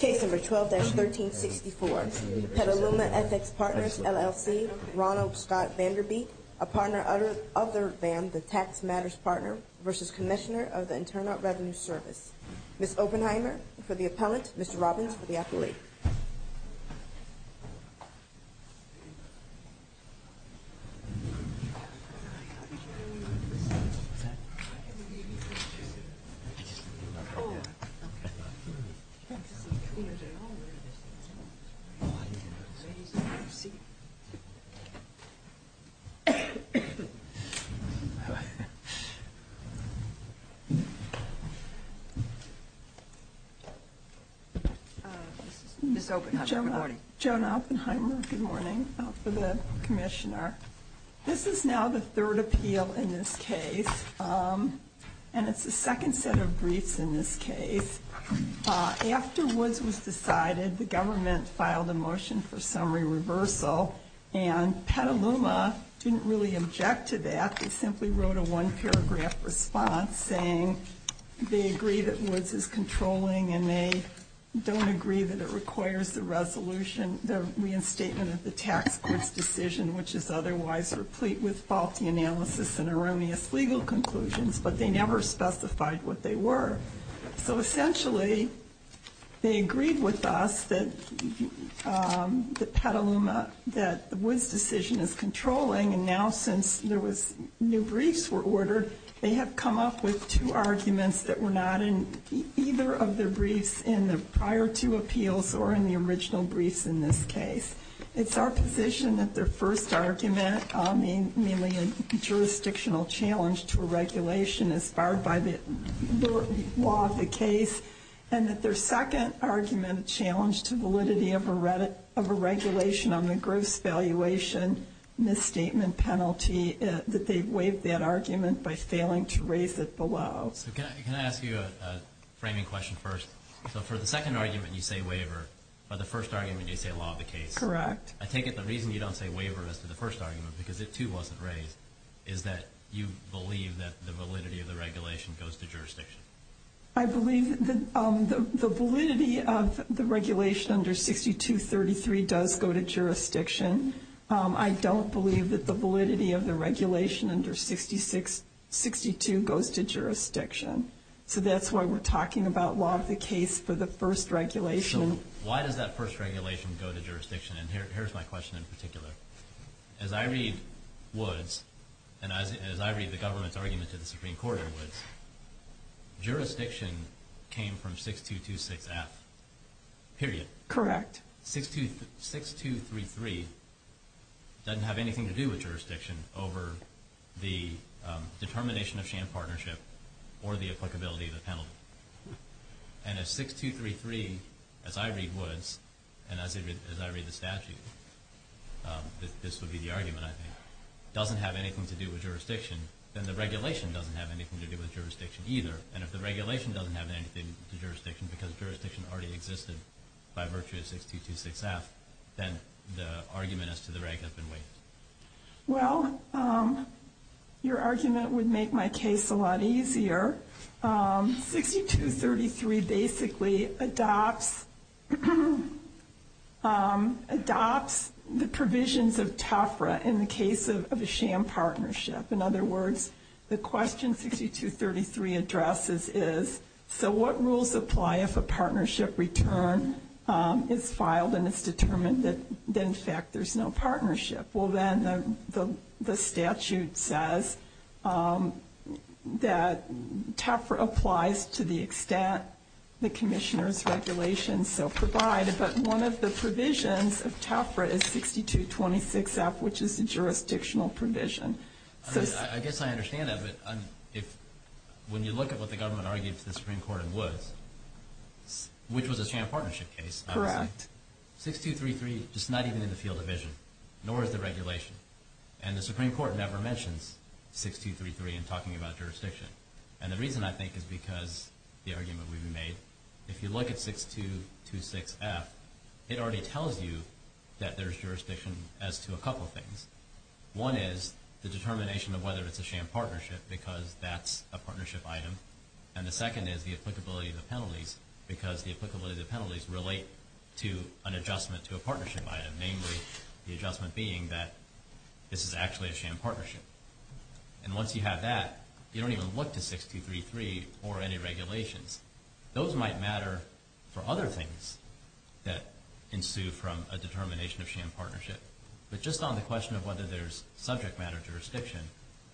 Case number 12-1364, Petaluma FX Partners, LLC, Ronald Scott Vanderbeek, a partner other than the Tax Matters Partner versus Commissioner of the Internal Revenue Service. Ms. Oppenheimer for the appellant, Mr. Robbins for the appellee. Ms. Oppenheimer, good morning. Joan Oppenheimer, good morning, for the Commissioner. This is now the third appeal in this case, and it's the second set of briefs in this case. After Woods was decided, the government filed a motion for summary reversal, and Petaluma didn't really object to that. They simply wrote a one-paragraph response saying they agree that Woods is controlling and they don't agree that it requires the resolution, the reinstatement of the tax court's decision, which is otherwise replete with faulty analysis and erroneous legal conclusions, but they never specified what they were. So essentially they agreed with us that Petaluma, that Woods' decision is controlling, and now since new briefs were ordered, they have come up with two arguments that were not in either of their briefs in the prior two appeals or in the original briefs in this case. It's our position that their first argument, namely a jurisdictional challenge to a regulation inspired by the law of the case, and that their second argument, a challenge to validity of a regulation on the gross valuation misstatement penalty, that they waived that argument by failing to raise it below. So can I ask you a framing question first? So for the second argument you say waiver, but the first argument you say law of the case. Correct. I take it the reason you don't say waiver as to the first argument, because it too wasn't raised, is that you believe that the validity of the regulation goes to jurisdiction. I believe that the validity of the regulation under 6233 does go to jurisdiction. I don't believe that the validity of the regulation under 6262 goes to jurisdiction. So that's why we're talking about law of the case for the first regulation So why does that first regulation go to jurisdiction? And here's my question in particular. As I read Woods, and as I read the government's argument to the Supreme Court in Woods, jurisdiction came from 6226F. Period. Correct. 6233 doesn't have anything to do with jurisdiction over the determination of sham partnership or the applicability of the penalty. And if 6233, as I read Woods, and as I read the statute, this would be the argument I think, doesn't have anything to do with jurisdiction, then the regulation doesn't have anything to do with jurisdiction either. And if the regulation doesn't have anything to do with jurisdiction because jurisdiction already existed by virtue of 6226F, then the argument as to the rank has been waived. Well, your argument would make my case a lot easier. 6233 basically adopts the provisions of TEFRA in the case of a sham partnership. In other words, the question 6233 addresses is, so what rules apply if a partnership return is filed and it's determined that, in fact, there's no partnership? Well, then the statute says that TEFRA applies to the extent the commissioner's regulations so provide, but one of the provisions of TEFRA is 6226F, which is a jurisdictional provision. I guess I understand that, but when you look at what the government argued to the Supreme Court in Woods, which was a sham partnership case, obviously. Correct. 6233 is not even in the field of vision, nor is the regulation. And the Supreme Court never mentions 6233 in talking about jurisdiction. And the reason, I think, is because the argument we've made. If you look at 6226F, it already tells you that there's jurisdiction as to a couple things. One is the determination of whether it's a sham partnership because that's a partnership item. And the second is the applicability of the penalties because the applicability of the penalties relate to an adjustment to a partnership item, namely the adjustment being that this is actually a sham partnership. And once you have that, you don't even look to 6233 or any regulations. Those might matter for other things that ensue from a determination of sham partnership, but just on the question of whether there's subject matter jurisdiction,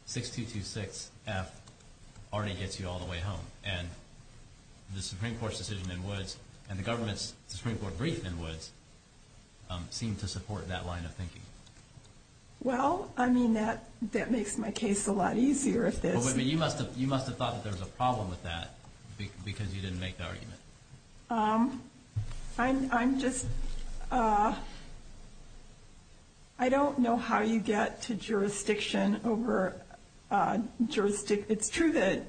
6226F already gets you all the way home. And the Supreme Court's decision in Woods and the government's Supreme Court brief in Woods seem to support that line of thinking. Well, I mean, that makes my case a lot easier. You must have thought that there was a problem with that because you didn't make the argument. I'm just... I don't know how you get to jurisdiction over jurisdiction. It's true that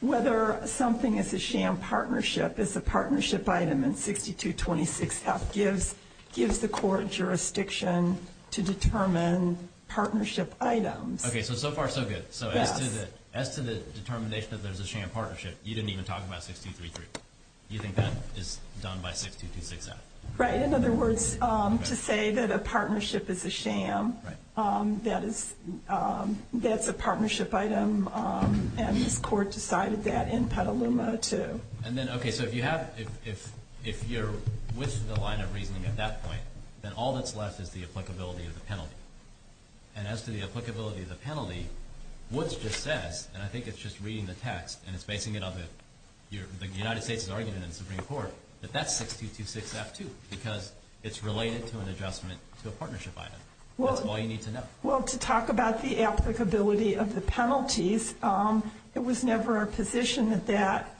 whether something is a sham partnership is a partnership item, and 6226F gives the court jurisdiction to determine partnership items. Okay, so so far so good. So as to the determination that there's a sham partnership, you didn't even talk about 6233. You think that is done by 6226F? Right. In other words, to say that a partnership is a sham, that's a partnership item, and this court decided that in Petaluma too. Okay, so if you're with the line of reasoning at that point, then all that's left is the applicability of the penalty. And as to the applicability of the penalty, Woods just says, and I think it's just reading the text and it's basing it on the United States' argument in the Supreme Court, that that's 6226F too because it's related to an adjustment to a partnership item. That's all you need to know. Well, to talk about the applicability of the penalties, it was never a position that that...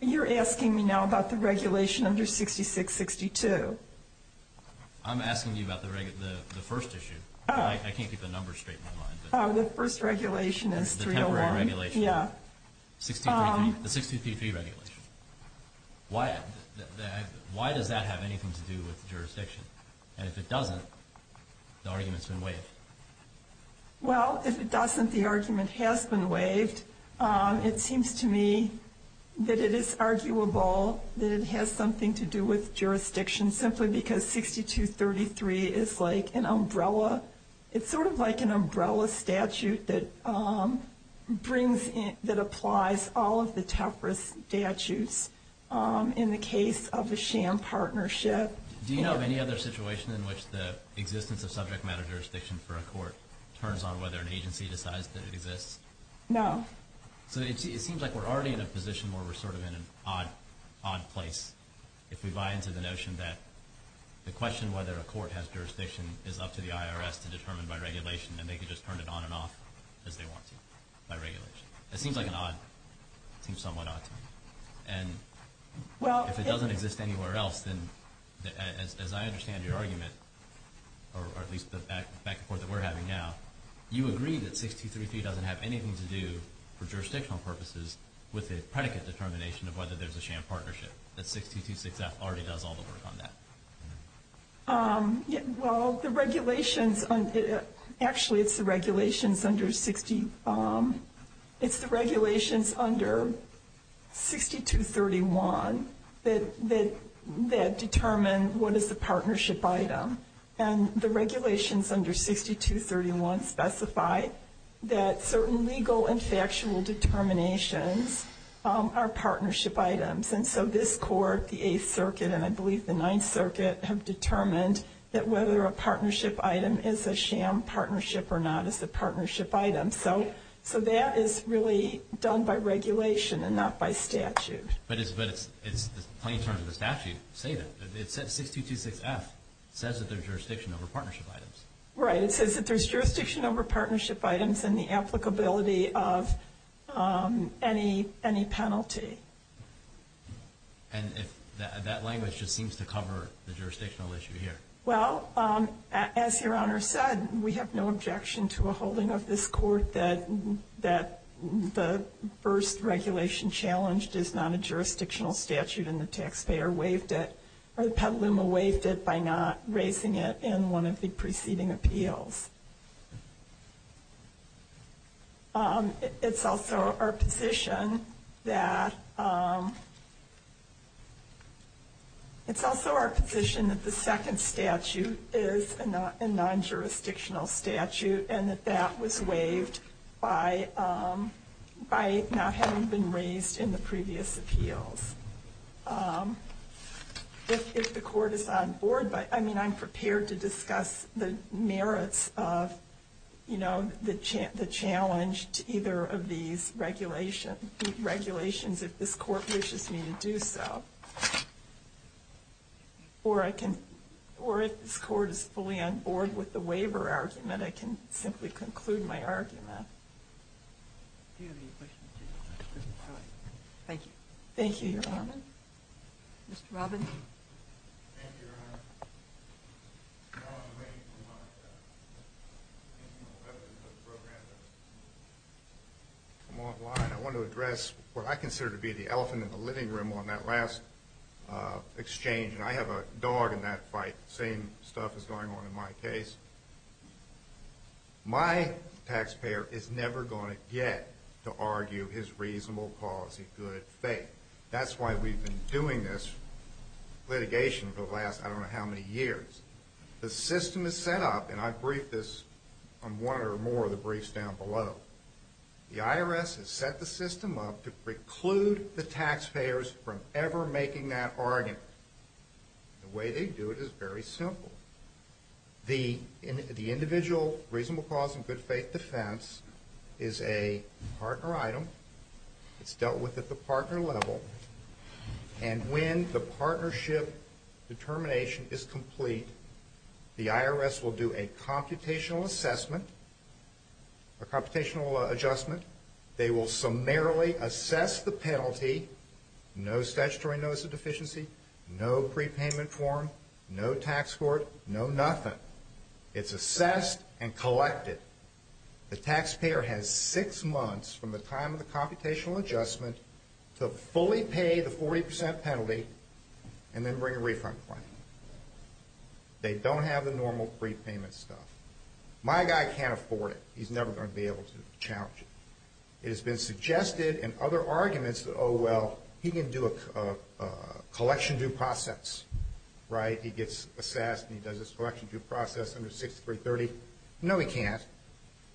You're asking me now about the regulation under 6662. I'm asking you about the first issue. I can't keep the numbers straight in my mind. The first regulation is 301. The temporary regulation. Yeah. The 6233 regulation. Why does that have anything to do with jurisdiction? And if it doesn't, the argument's been waived. Well, if it doesn't, the argument has been waived. It seems to me that it is arguable that it has something to do with jurisdiction simply because 6233 is like an umbrella. It's still a statute that applies all of the TEPRA statutes in the case of a sham partnership. Do you know of any other situation in which the existence of subject matter jurisdiction for a court turns on whether an agency decides that it exists? No. So it seems like we're already in a position where we're sort of in an odd place. If we buy into the notion that the question whether a court has jurisdiction is up to the IRS to determine by regulation, then they can just turn it on and off as they want to by regulation. It seems like an odd, seems somewhat odd to me. And if it doesn't exist anywhere else, then as I understand your argument, or at least the back and forth that we're having now, you agree that 6233 doesn't have anything to do for jurisdictional purposes with a predicate determination of whether there's a sham partnership, that 6226F already does all the work on that. Well, the regulations, actually it's the regulations under 6231 that determine what is the partnership item. And the regulations under 6231 specify that certain legal and factual determinations are partnership items. And so this court, the Eighth Circuit, and I believe the Ninth Circuit, have determined that whether a partnership item is a sham partnership or not is a partnership item. So that is really done by regulation and not by statute. But it's the plain terms of the statute say that. It says 6226F says that there's jurisdiction over partnership items. Right. It says that there's jurisdiction over partnership items and the applicability of any penalty. And that language just seems to cover the jurisdictional issue here. Well, as Your Honor said, we have no objection to a holding of this court that the first regulation challenged is not a jurisdictional statute and the taxpayer waived it, or the Petaluma waived it by not raising it in one of the preceding appeals. It's also our position that the second statute is a non-jurisdictional statute and that that was waived by not having been raised in the previous appeals. If the court is on board, I mean, I'm prepared to discuss the merits of, you know, the challenge to either of these regulations if this court wishes me to do so. Or if this court is fully on board with the waiver argument, I can simply conclude my argument. Do you have any questions? Thank you. Thank you, Your Honor. Mr. Robinson. Thank you, Your Honor. I want to address what I consider to be the elephant in the living room on that last exchange, and I have a dog in that fight, the same stuff that's going on in my case. My taxpayer is never going to get to argue his reasonable policy good faith. That's why we've been doing this litigation for the last I don't know how many years. The system is set up, and I briefed this on one or more of the briefs down below, the IRS has set the system up to preclude the taxpayers from ever making that argument. The way they do it is very simple. The individual reasonable cause and good faith defense is a partner item. It's dealt with at the partner level, and when the partnership determination is complete, the IRS will do a computational assessment, a computational adjustment. They will summarily assess the penalty, no statutory notice of deficiency, no prepayment form, no tax court, no nothing. It's assessed and collected. The taxpayer has six months from the time of the computational adjustment to fully pay the 40% penalty and then bring a refund claim. They don't have the normal prepayment stuff. My guy can't afford it. He's never going to be able to challenge it. It has been suggested in other arguments that, oh, well, he can do a collection due process, right? He gets assessed and he does this collection due process under 6330. No, he can't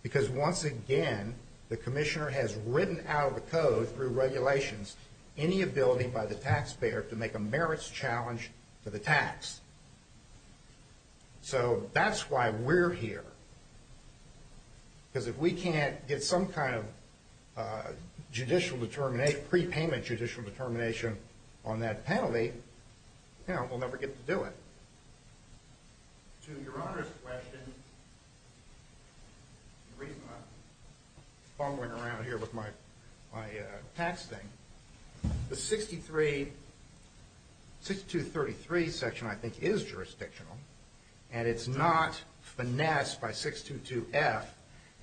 because, once again, the commissioner has written out of the code through regulations any ability by the taxpayer to make a merits challenge to the tax. So that's why we're here, because if we can't get some kind of judicial determination, prepayment judicial determination on that penalty, we'll never get to do it. To your Honor's question, the reason I'm fumbling around here with my tax thing, the 6233 section, I think, is jurisdictional, and it's not finessed by 622F.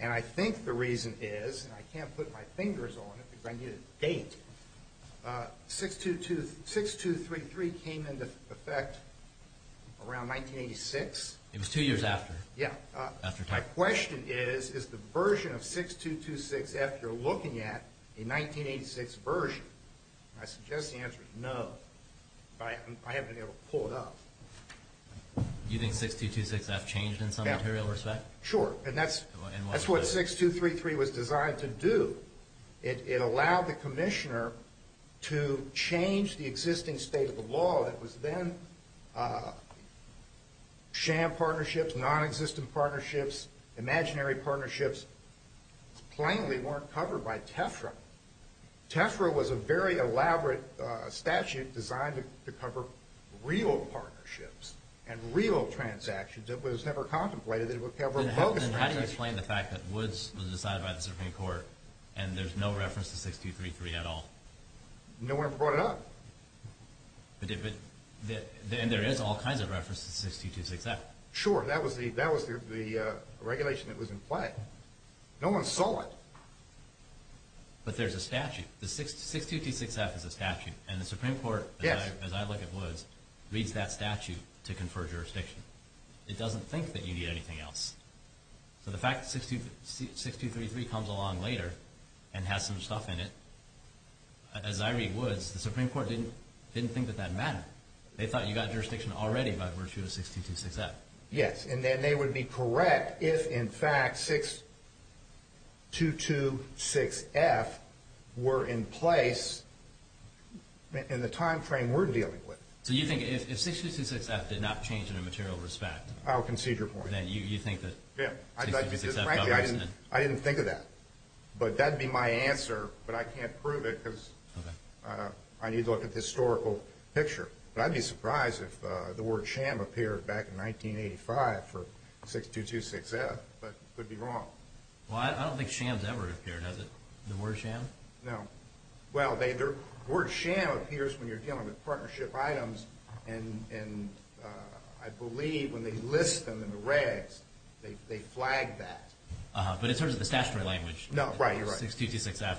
And I think the reason is, and I can't put my fingers on it because I need a date, 6233 came into effect around 1986. It was two years after. My question is, is the version of 6226F you're looking at a 1986 version? I suggest the answer is no, but I haven't been able to pull it up. Do you think 6226F changed in some material respect? Sure, and that's what 6233 was designed to do. It allowed the commissioner to change the existing state of the law that was then sham partnerships, nonexistent partnerships, imaginary partnerships, plainly weren't covered by TEFRA. TEFRA was a very elaborate statute designed to cover real partnerships and real transactions. It was never contemplated that it would cover bogus transactions. Then how do you explain the fact that Woods was decided by the Supreme Court and there's no reference to 6233 at all? No one brought it up. And there is all kinds of reference to 6226F. Sure, that was the regulation that was in play. No one saw it. But there's a statute. The 6226F is a statute, and the Supreme Court, as I look at Woods, reads that statute to confer jurisdiction. It doesn't think that you need anything else. So the fact that 6233 comes along later and has some stuff in it, as I read Woods, the Supreme Court didn't think that that mattered. They thought you got jurisdiction already by virtue of 6226F. Yes, and then they would be correct if, in fact, 6226F were in place in the time frame we're dealing with. So you think if 6226F did not change in a material respect, then you think that 6226F doesn't? Frankly, I didn't think of that. But that would be my answer, but I can't prove it because I need to look at the historical picture. But I'd be surprised if the word sham appeared back in 1985 for 6226F. But I could be wrong. Well, I don't think sham has ever appeared, has it? The word sham? No. Well, the word sham appears when you're dealing with partnership items, and I believe when they list them in the regs, they flag that. But in terms of the statutory language, 6226F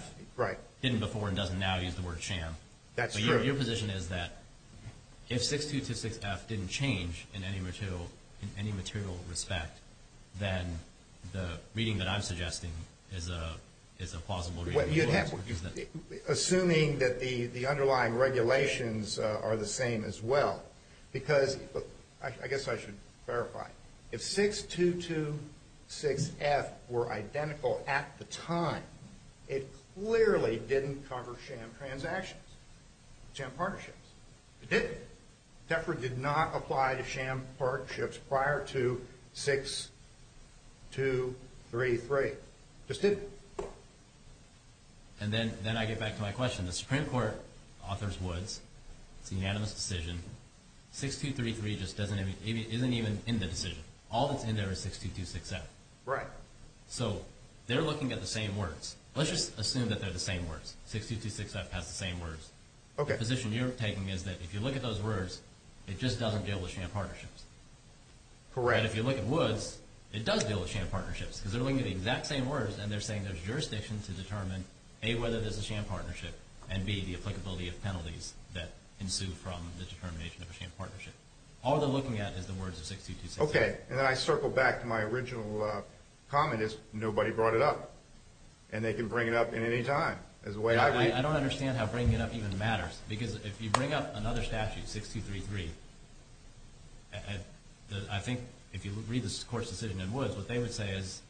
didn't before and doesn't now use the word sham. That's true. But your position is that if 6226F didn't change in any material respect, then the reading that I'm suggesting is a plausible reading. Assuming that the underlying regulations are the same as well, because I guess I should verify. If 6226F were identical at the time, it clearly didn't cover sham transactions, sham partnerships. It didn't. DEFRA did not apply to sham partnerships prior to 6233. Just didn't. And then I get back to my question. The Supreme Court authors Woods. It's a unanimous decision. 6233 just isn't even in the decision. All that's in there is 6226F. Right. So they're looking at the same words. Let's just assume that they're the same words. 6226F has the same words. Okay. The position you're taking is that if you look at those words, it just doesn't deal with sham partnerships. Correct. If you look at Woods, it does deal with sham partnerships, because they're looking at the exact same words, and they're saying there's jurisdiction to determine, A, whether this is a sham partnership, and, B, the applicability of penalties that ensue from the determination of a sham partnership. All they're looking at is the words of 6226F. Okay. And then I circle back to my original comment is nobody brought it up. And they can bring it up at any time. I don't understand how bringing it up even matters, because if you bring up another statute, 6233, I think if you read the court's decision in Woods, what they would say is,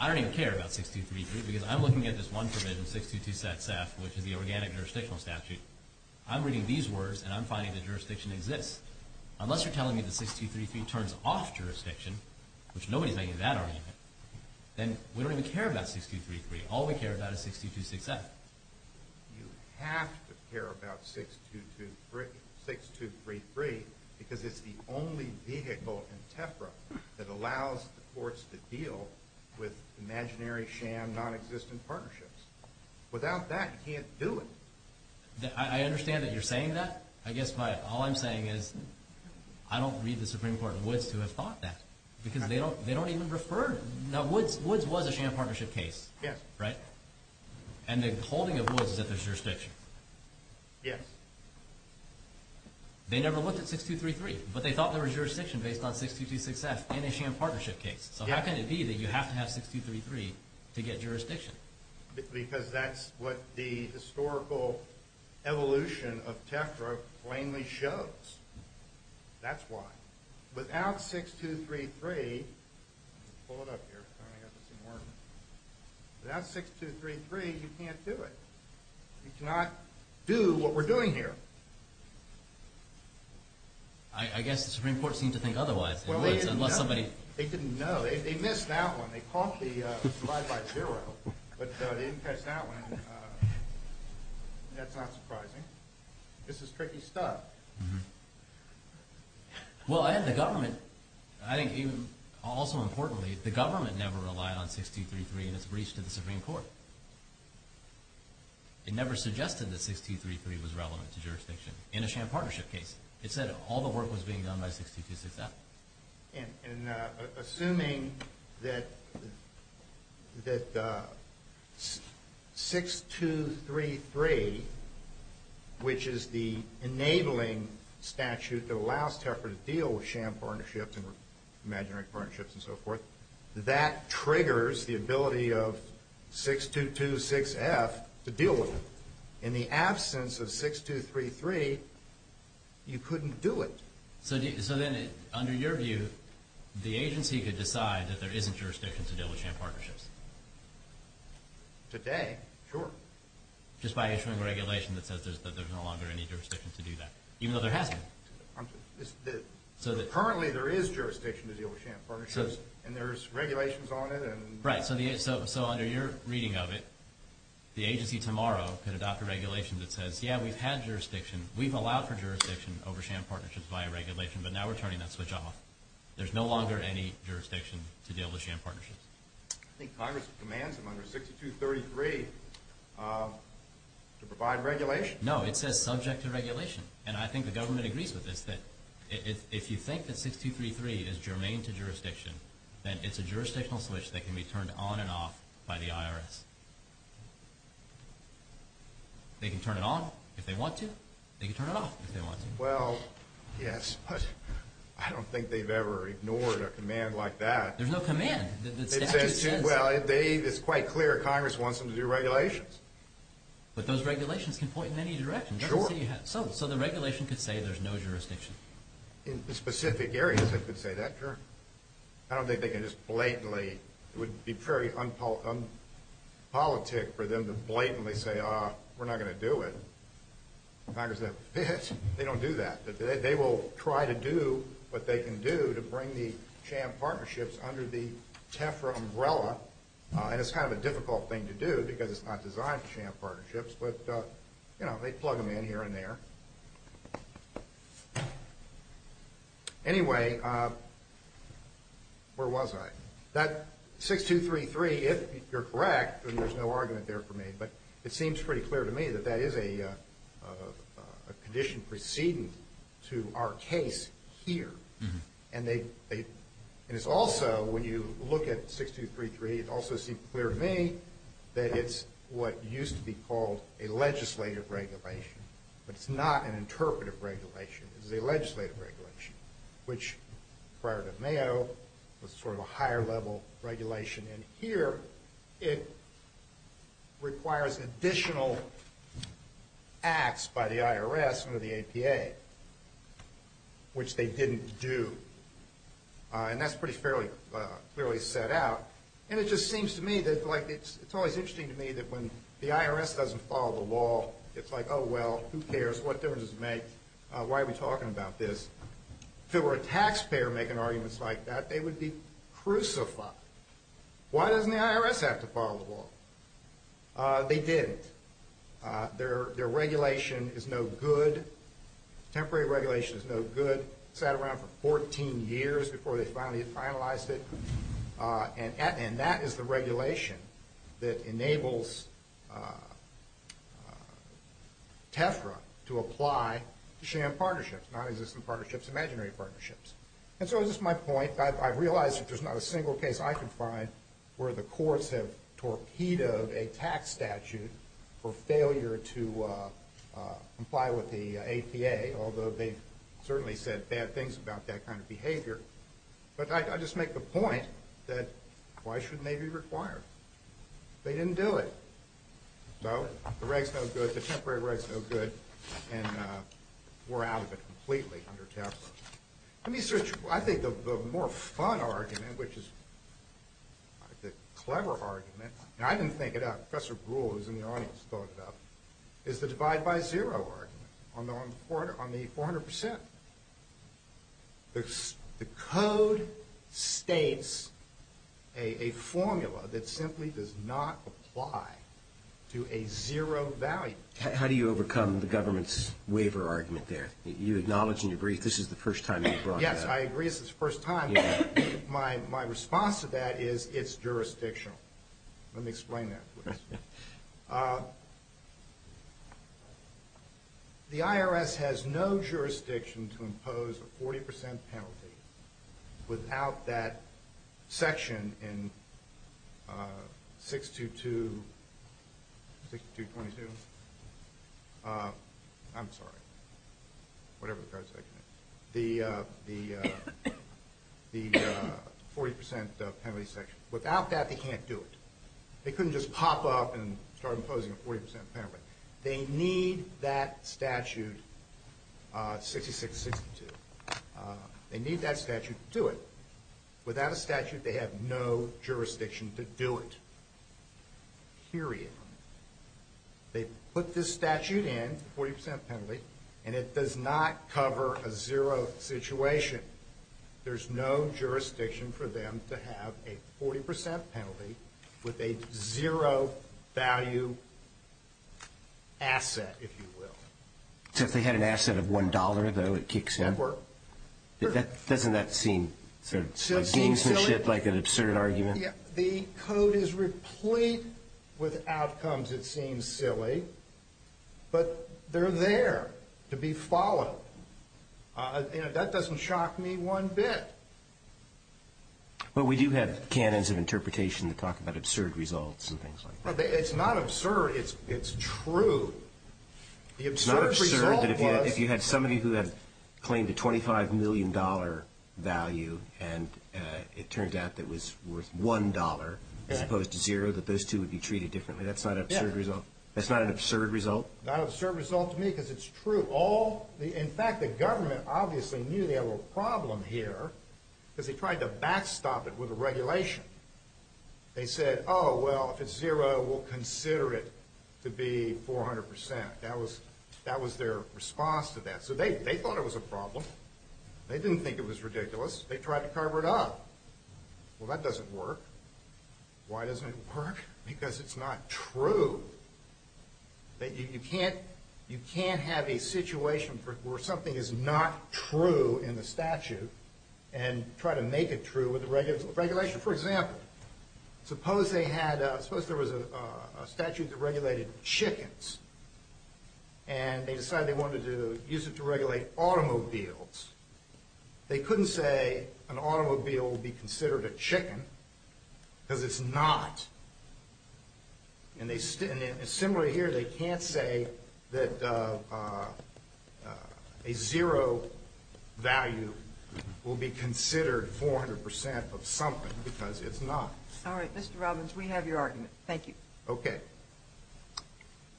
I don't even care about 6233, because I'm looking at this one provision, 6226F, which is the organic jurisdictional statute. I'm reading these words, and I'm finding that jurisdiction exists. Unless you're telling me that 6233 turns off jurisdiction, which nobody's making that argument, then we don't even care about 6233. All we care about is 6226F. You have to care about 6233, because it's the only vehicle in TEFRA that allows the courts to deal with imaginary sham non-existent partnerships. Without that, you can't do it. I understand that you're saying that. I guess all I'm saying is I don't read the Supreme Court in Woods to have thought that, because they don't even refer. Now, Woods was a sham partnership case. Yes. Right? And the holding of Woods is that there's jurisdiction. Yes. They never looked at 6233, but they thought there was jurisdiction based on 6226F in a sham partnership case. So how can it be that you have to have 6233 to get jurisdiction? Because that's what the historical evolution of TEFRA plainly shows. That's why. Without 6233, you can't do it. You cannot do what we're doing here. I guess the Supreme Court seemed to think otherwise in Woods, unless somebody... They didn't know. They missed that one. They caught the divide by zero, but they didn't catch that one. That's not surprising. This is tricky stuff. Well, and the government, I think also importantly, the government never relied on 6233 in its breach to the Supreme Court. It never suggested that 6233 was relevant to jurisdiction in a sham partnership case. It said all the work was being done by 6226F. Assuming that 6233, which is the enabling statute that allows TEFRA to deal with sham partnerships and imaginary partnerships and so forth, that triggers the ability of 6226F to deal with it. In the absence of 6233, you couldn't do it. So then, under your view, the agency could decide that there isn't jurisdiction to deal with sham partnerships. Today, sure. Just by issuing a regulation that says that there's no longer any jurisdiction to do that, even though there hasn't. Currently, there is jurisdiction to deal with sham partnerships, and there's regulations on it. Right. So under your reading of it, the agency tomorrow could adopt a regulation that says, yeah, we've had jurisdiction, we've allowed for jurisdiction over sham partnerships via regulation, but now we're turning that switch off. There's no longer any jurisdiction to deal with sham partnerships. I think Congress commands under 6233 to provide regulation. No, it says subject to regulation. And I think the government agrees with this, that if you think that 6233 is germane to jurisdiction, then it's a jurisdictional switch that can be turned on and off by the IRS. They can turn it on if they want to. They can turn it off if they want to. Well, yes, but I don't think they've ever ignored a command like that. There's no command. It says, well, it's quite clear Congress wants them to do regulations. But those regulations can point in any direction. Sure. So the regulation could say there's no jurisdiction. In specific areas, it could say that, sure. I don't think they can just blatantly. It would be very unpolitic for them to blatantly say, ah, we're not going to do it. Congress would say, they don't do that. They will try to do what they can do to bring the sham partnerships under the TEFRA umbrella. And it's kind of a difficult thing to do because it's not designed for sham partnerships. But, you know, they plug them in here and there. Anyway, where was I? That 6233, if you're correct, and there's no argument there for me, but it seems pretty clear to me that that is a condition preceding to our case here. And it's also, when you look at 6233, it also seems clear to me that it's what used to be called a legislative regulation. But it's not an interpretive regulation. It's a legislative regulation, which prior to Mayo was sort of a higher level regulation. And here it requires additional acts by the IRS under the APA, which they didn't do. And that's pretty clearly set out. And it just seems to me that it's always interesting to me that when the IRS doesn't follow the law, it's like, oh, well, who cares? What difference does it make? Why are we talking about this? If it were a taxpayer making arguments like that, they would be crucified. Why doesn't the IRS have to follow the law? They didn't. Their regulation is no good. Temporary regulation is no good. It sat around for 14 years before they finally finalized it. And that is the regulation that enables TEFRA to apply to sham partnerships, non-existent partnerships, imaginary partnerships. And so this is my point. I realize that there's not a single case I can find where the courts have torpedoed a tax statute for failure to comply with the APA, although they've certainly said bad things about that kind of behavior. But I just make the point that why shouldn't they be required? They didn't do it. So the reg's no good. The temporary reg's no good. And we're out of it completely under TEFRA. I think the more fun argument, which is the clever argument, and I didn't think it up. Professor Brewer, who's in the audience, thought it up, is the divide by zero argument on the 400%. The code states a formula that simply does not apply to a zero value. How do you overcome the government's waiver argument there? You acknowledge and you agree this is the first time you've brought that up. Yes, I agree this is the first time. My response to that is it's jurisdictional. Let me explain that, please. The IRS has no jurisdiction to impose a 40% penalty without that section in 622-6222. I'm sorry. Whatever the code section is. The 40% penalty section. Without that, they can't do it. They couldn't just pop up and start imposing a 40% penalty. They need that statute 6662. They need that statute to do it. Without a statute, they have no jurisdiction to do it. Period. They put this statute in, 40% penalty, and it does not cover a zero situation. There's no jurisdiction for them to have a 40% penalty with a zero value asset, if you will. So if they had an asset of $1, though, it kicks in? Doesn't that seem sort of gamesmanship, like an absurd argument? The code is replete with outcomes, it seems silly. But they're there to be followed. That doesn't shock me one bit. But we do have canons of interpretation that talk about absurd results and things like that. It's not absurd. It's true. The absurd result was... It's not absurd that if you had somebody who had claimed a $25 million value, and it turned out that it was worth $1 as opposed to zero, that those two would be treated differently? That's not an absurd result? No, not an absurd result to me because it's true. In fact, the government obviously knew they had a little problem here because they tried to backstop it with a regulation. They said, oh, well, if it's zero, we'll consider it to be 400%. That was their response to that. So they thought it was a problem. They didn't think it was ridiculous. They tried to cover it up. Well, that doesn't work. Why doesn't it work? Because it's not true. You can't have a situation where something is not true in the statute and try to make it true with a regulation. For example, suppose there was a statute that regulated chickens, and they decided they wanted to use it to regulate automobiles. They couldn't say an automobile would be considered a chicken because it's not. And similarly here, they can't say that a zero value will be considered 400% of something because it's not. All right, Mr. Robbins, we have your argument. Thank you. Okay.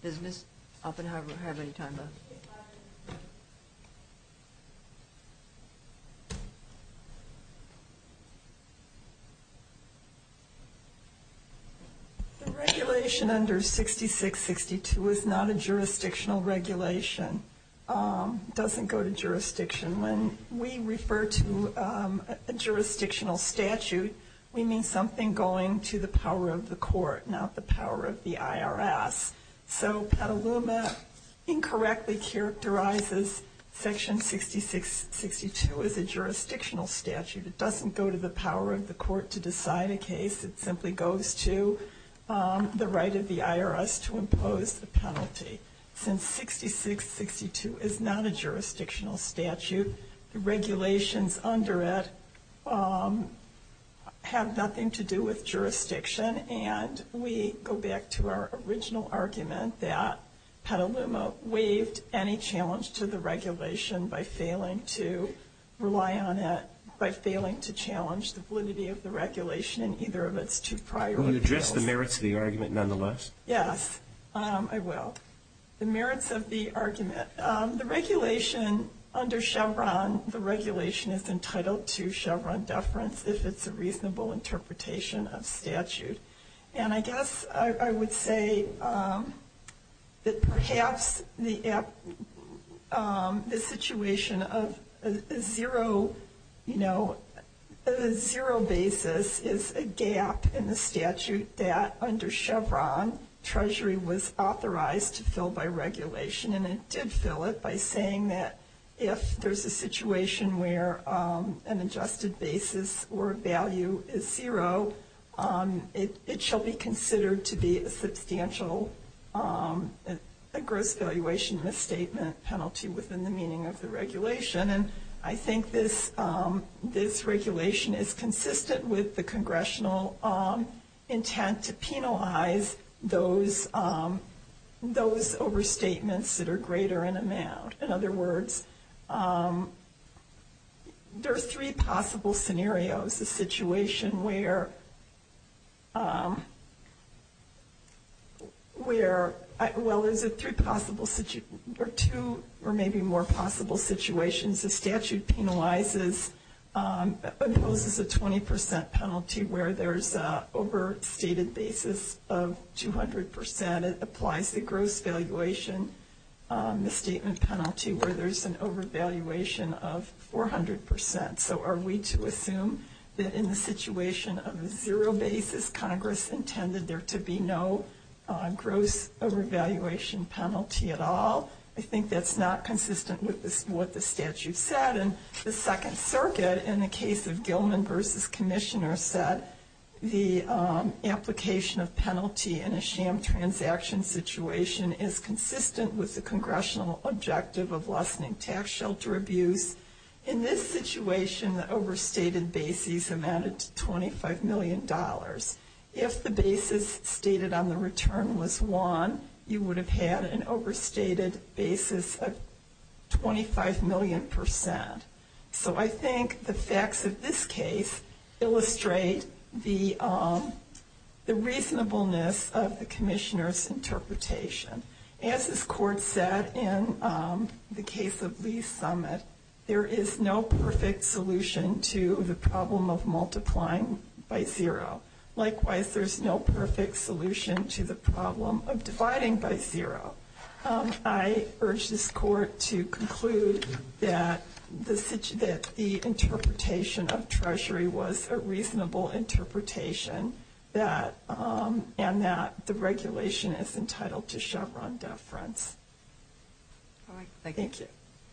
Does Ms. Oppenheimer have any time left? The regulation under 6662 is not a jurisdictional regulation. It doesn't go to jurisdiction. When we refer to a jurisdictional statute, we mean something going to the power of the court, not the power of the IRS. So Petaluma incorrectly characterizes Section 6662 as a jurisdictional statute. It doesn't go to the power of the court to decide a case. It simply goes to the right of the IRS to impose the penalty. Since 6662 is not a jurisdictional statute, the regulations under it have nothing to do with jurisdiction. And we go back to our original argument that Petaluma waived any challenge to the regulation by failing to rely on it, by failing to challenge the validity of the regulation in either of its two prior appeals. Will you address the merits of the argument nonetheless? Yes, I will. The merits of the argument. The regulation under Chevron, the regulation is entitled to Chevron deference if it's a reasonable interpretation of statute. And I guess I would say that perhaps the situation of a zero, you know, a zero basis is a gap in the statute that under Chevron Treasury was authorized to fill by regulation. And it did fill it by saying that if there's a situation where an adjusted basis or value is zero, it shall be considered to be a substantial gross valuation misstatement penalty within the meaning of the regulation. And I think this regulation is consistent with the congressional intent to penalize those overstatements that are greater in amount. In other words, there are three possible scenarios, a situation where, well, there's two or maybe more possible situations. The statute penalizes, imposes a 20 percent penalty where there's an overstated basis of 200 percent. It applies the gross valuation misstatement penalty where there's an overvaluation of 400 percent. So are we to assume that in the situation of a zero basis, Congress intended there to be no gross overvaluation penalty at all? I think that's not consistent with what the statute said. And the Second Circuit, in the case of Gilman v. Commissioner, said the application of penalty in a sham transaction situation is consistent with the congressional objective of lessening tax shelter abuse. In this situation, the overstated basis amounted to $25 million. If the basis stated on the return was one, you would have had an overstated basis of 25 million percent. So I think the facts of this case illustrate the reasonableness of the Commissioner's interpretation. As this Court said in the case of Lee's summit, there is no perfect solution to the problem of multiplying by zero. Likewise, there's no perfect solution to the problem of dividing by zero. I urge this Court to conclude that the interpretation of Treasury was a reasonable interpretation, and that the regulation is entitled to Chevron deference. Thank you.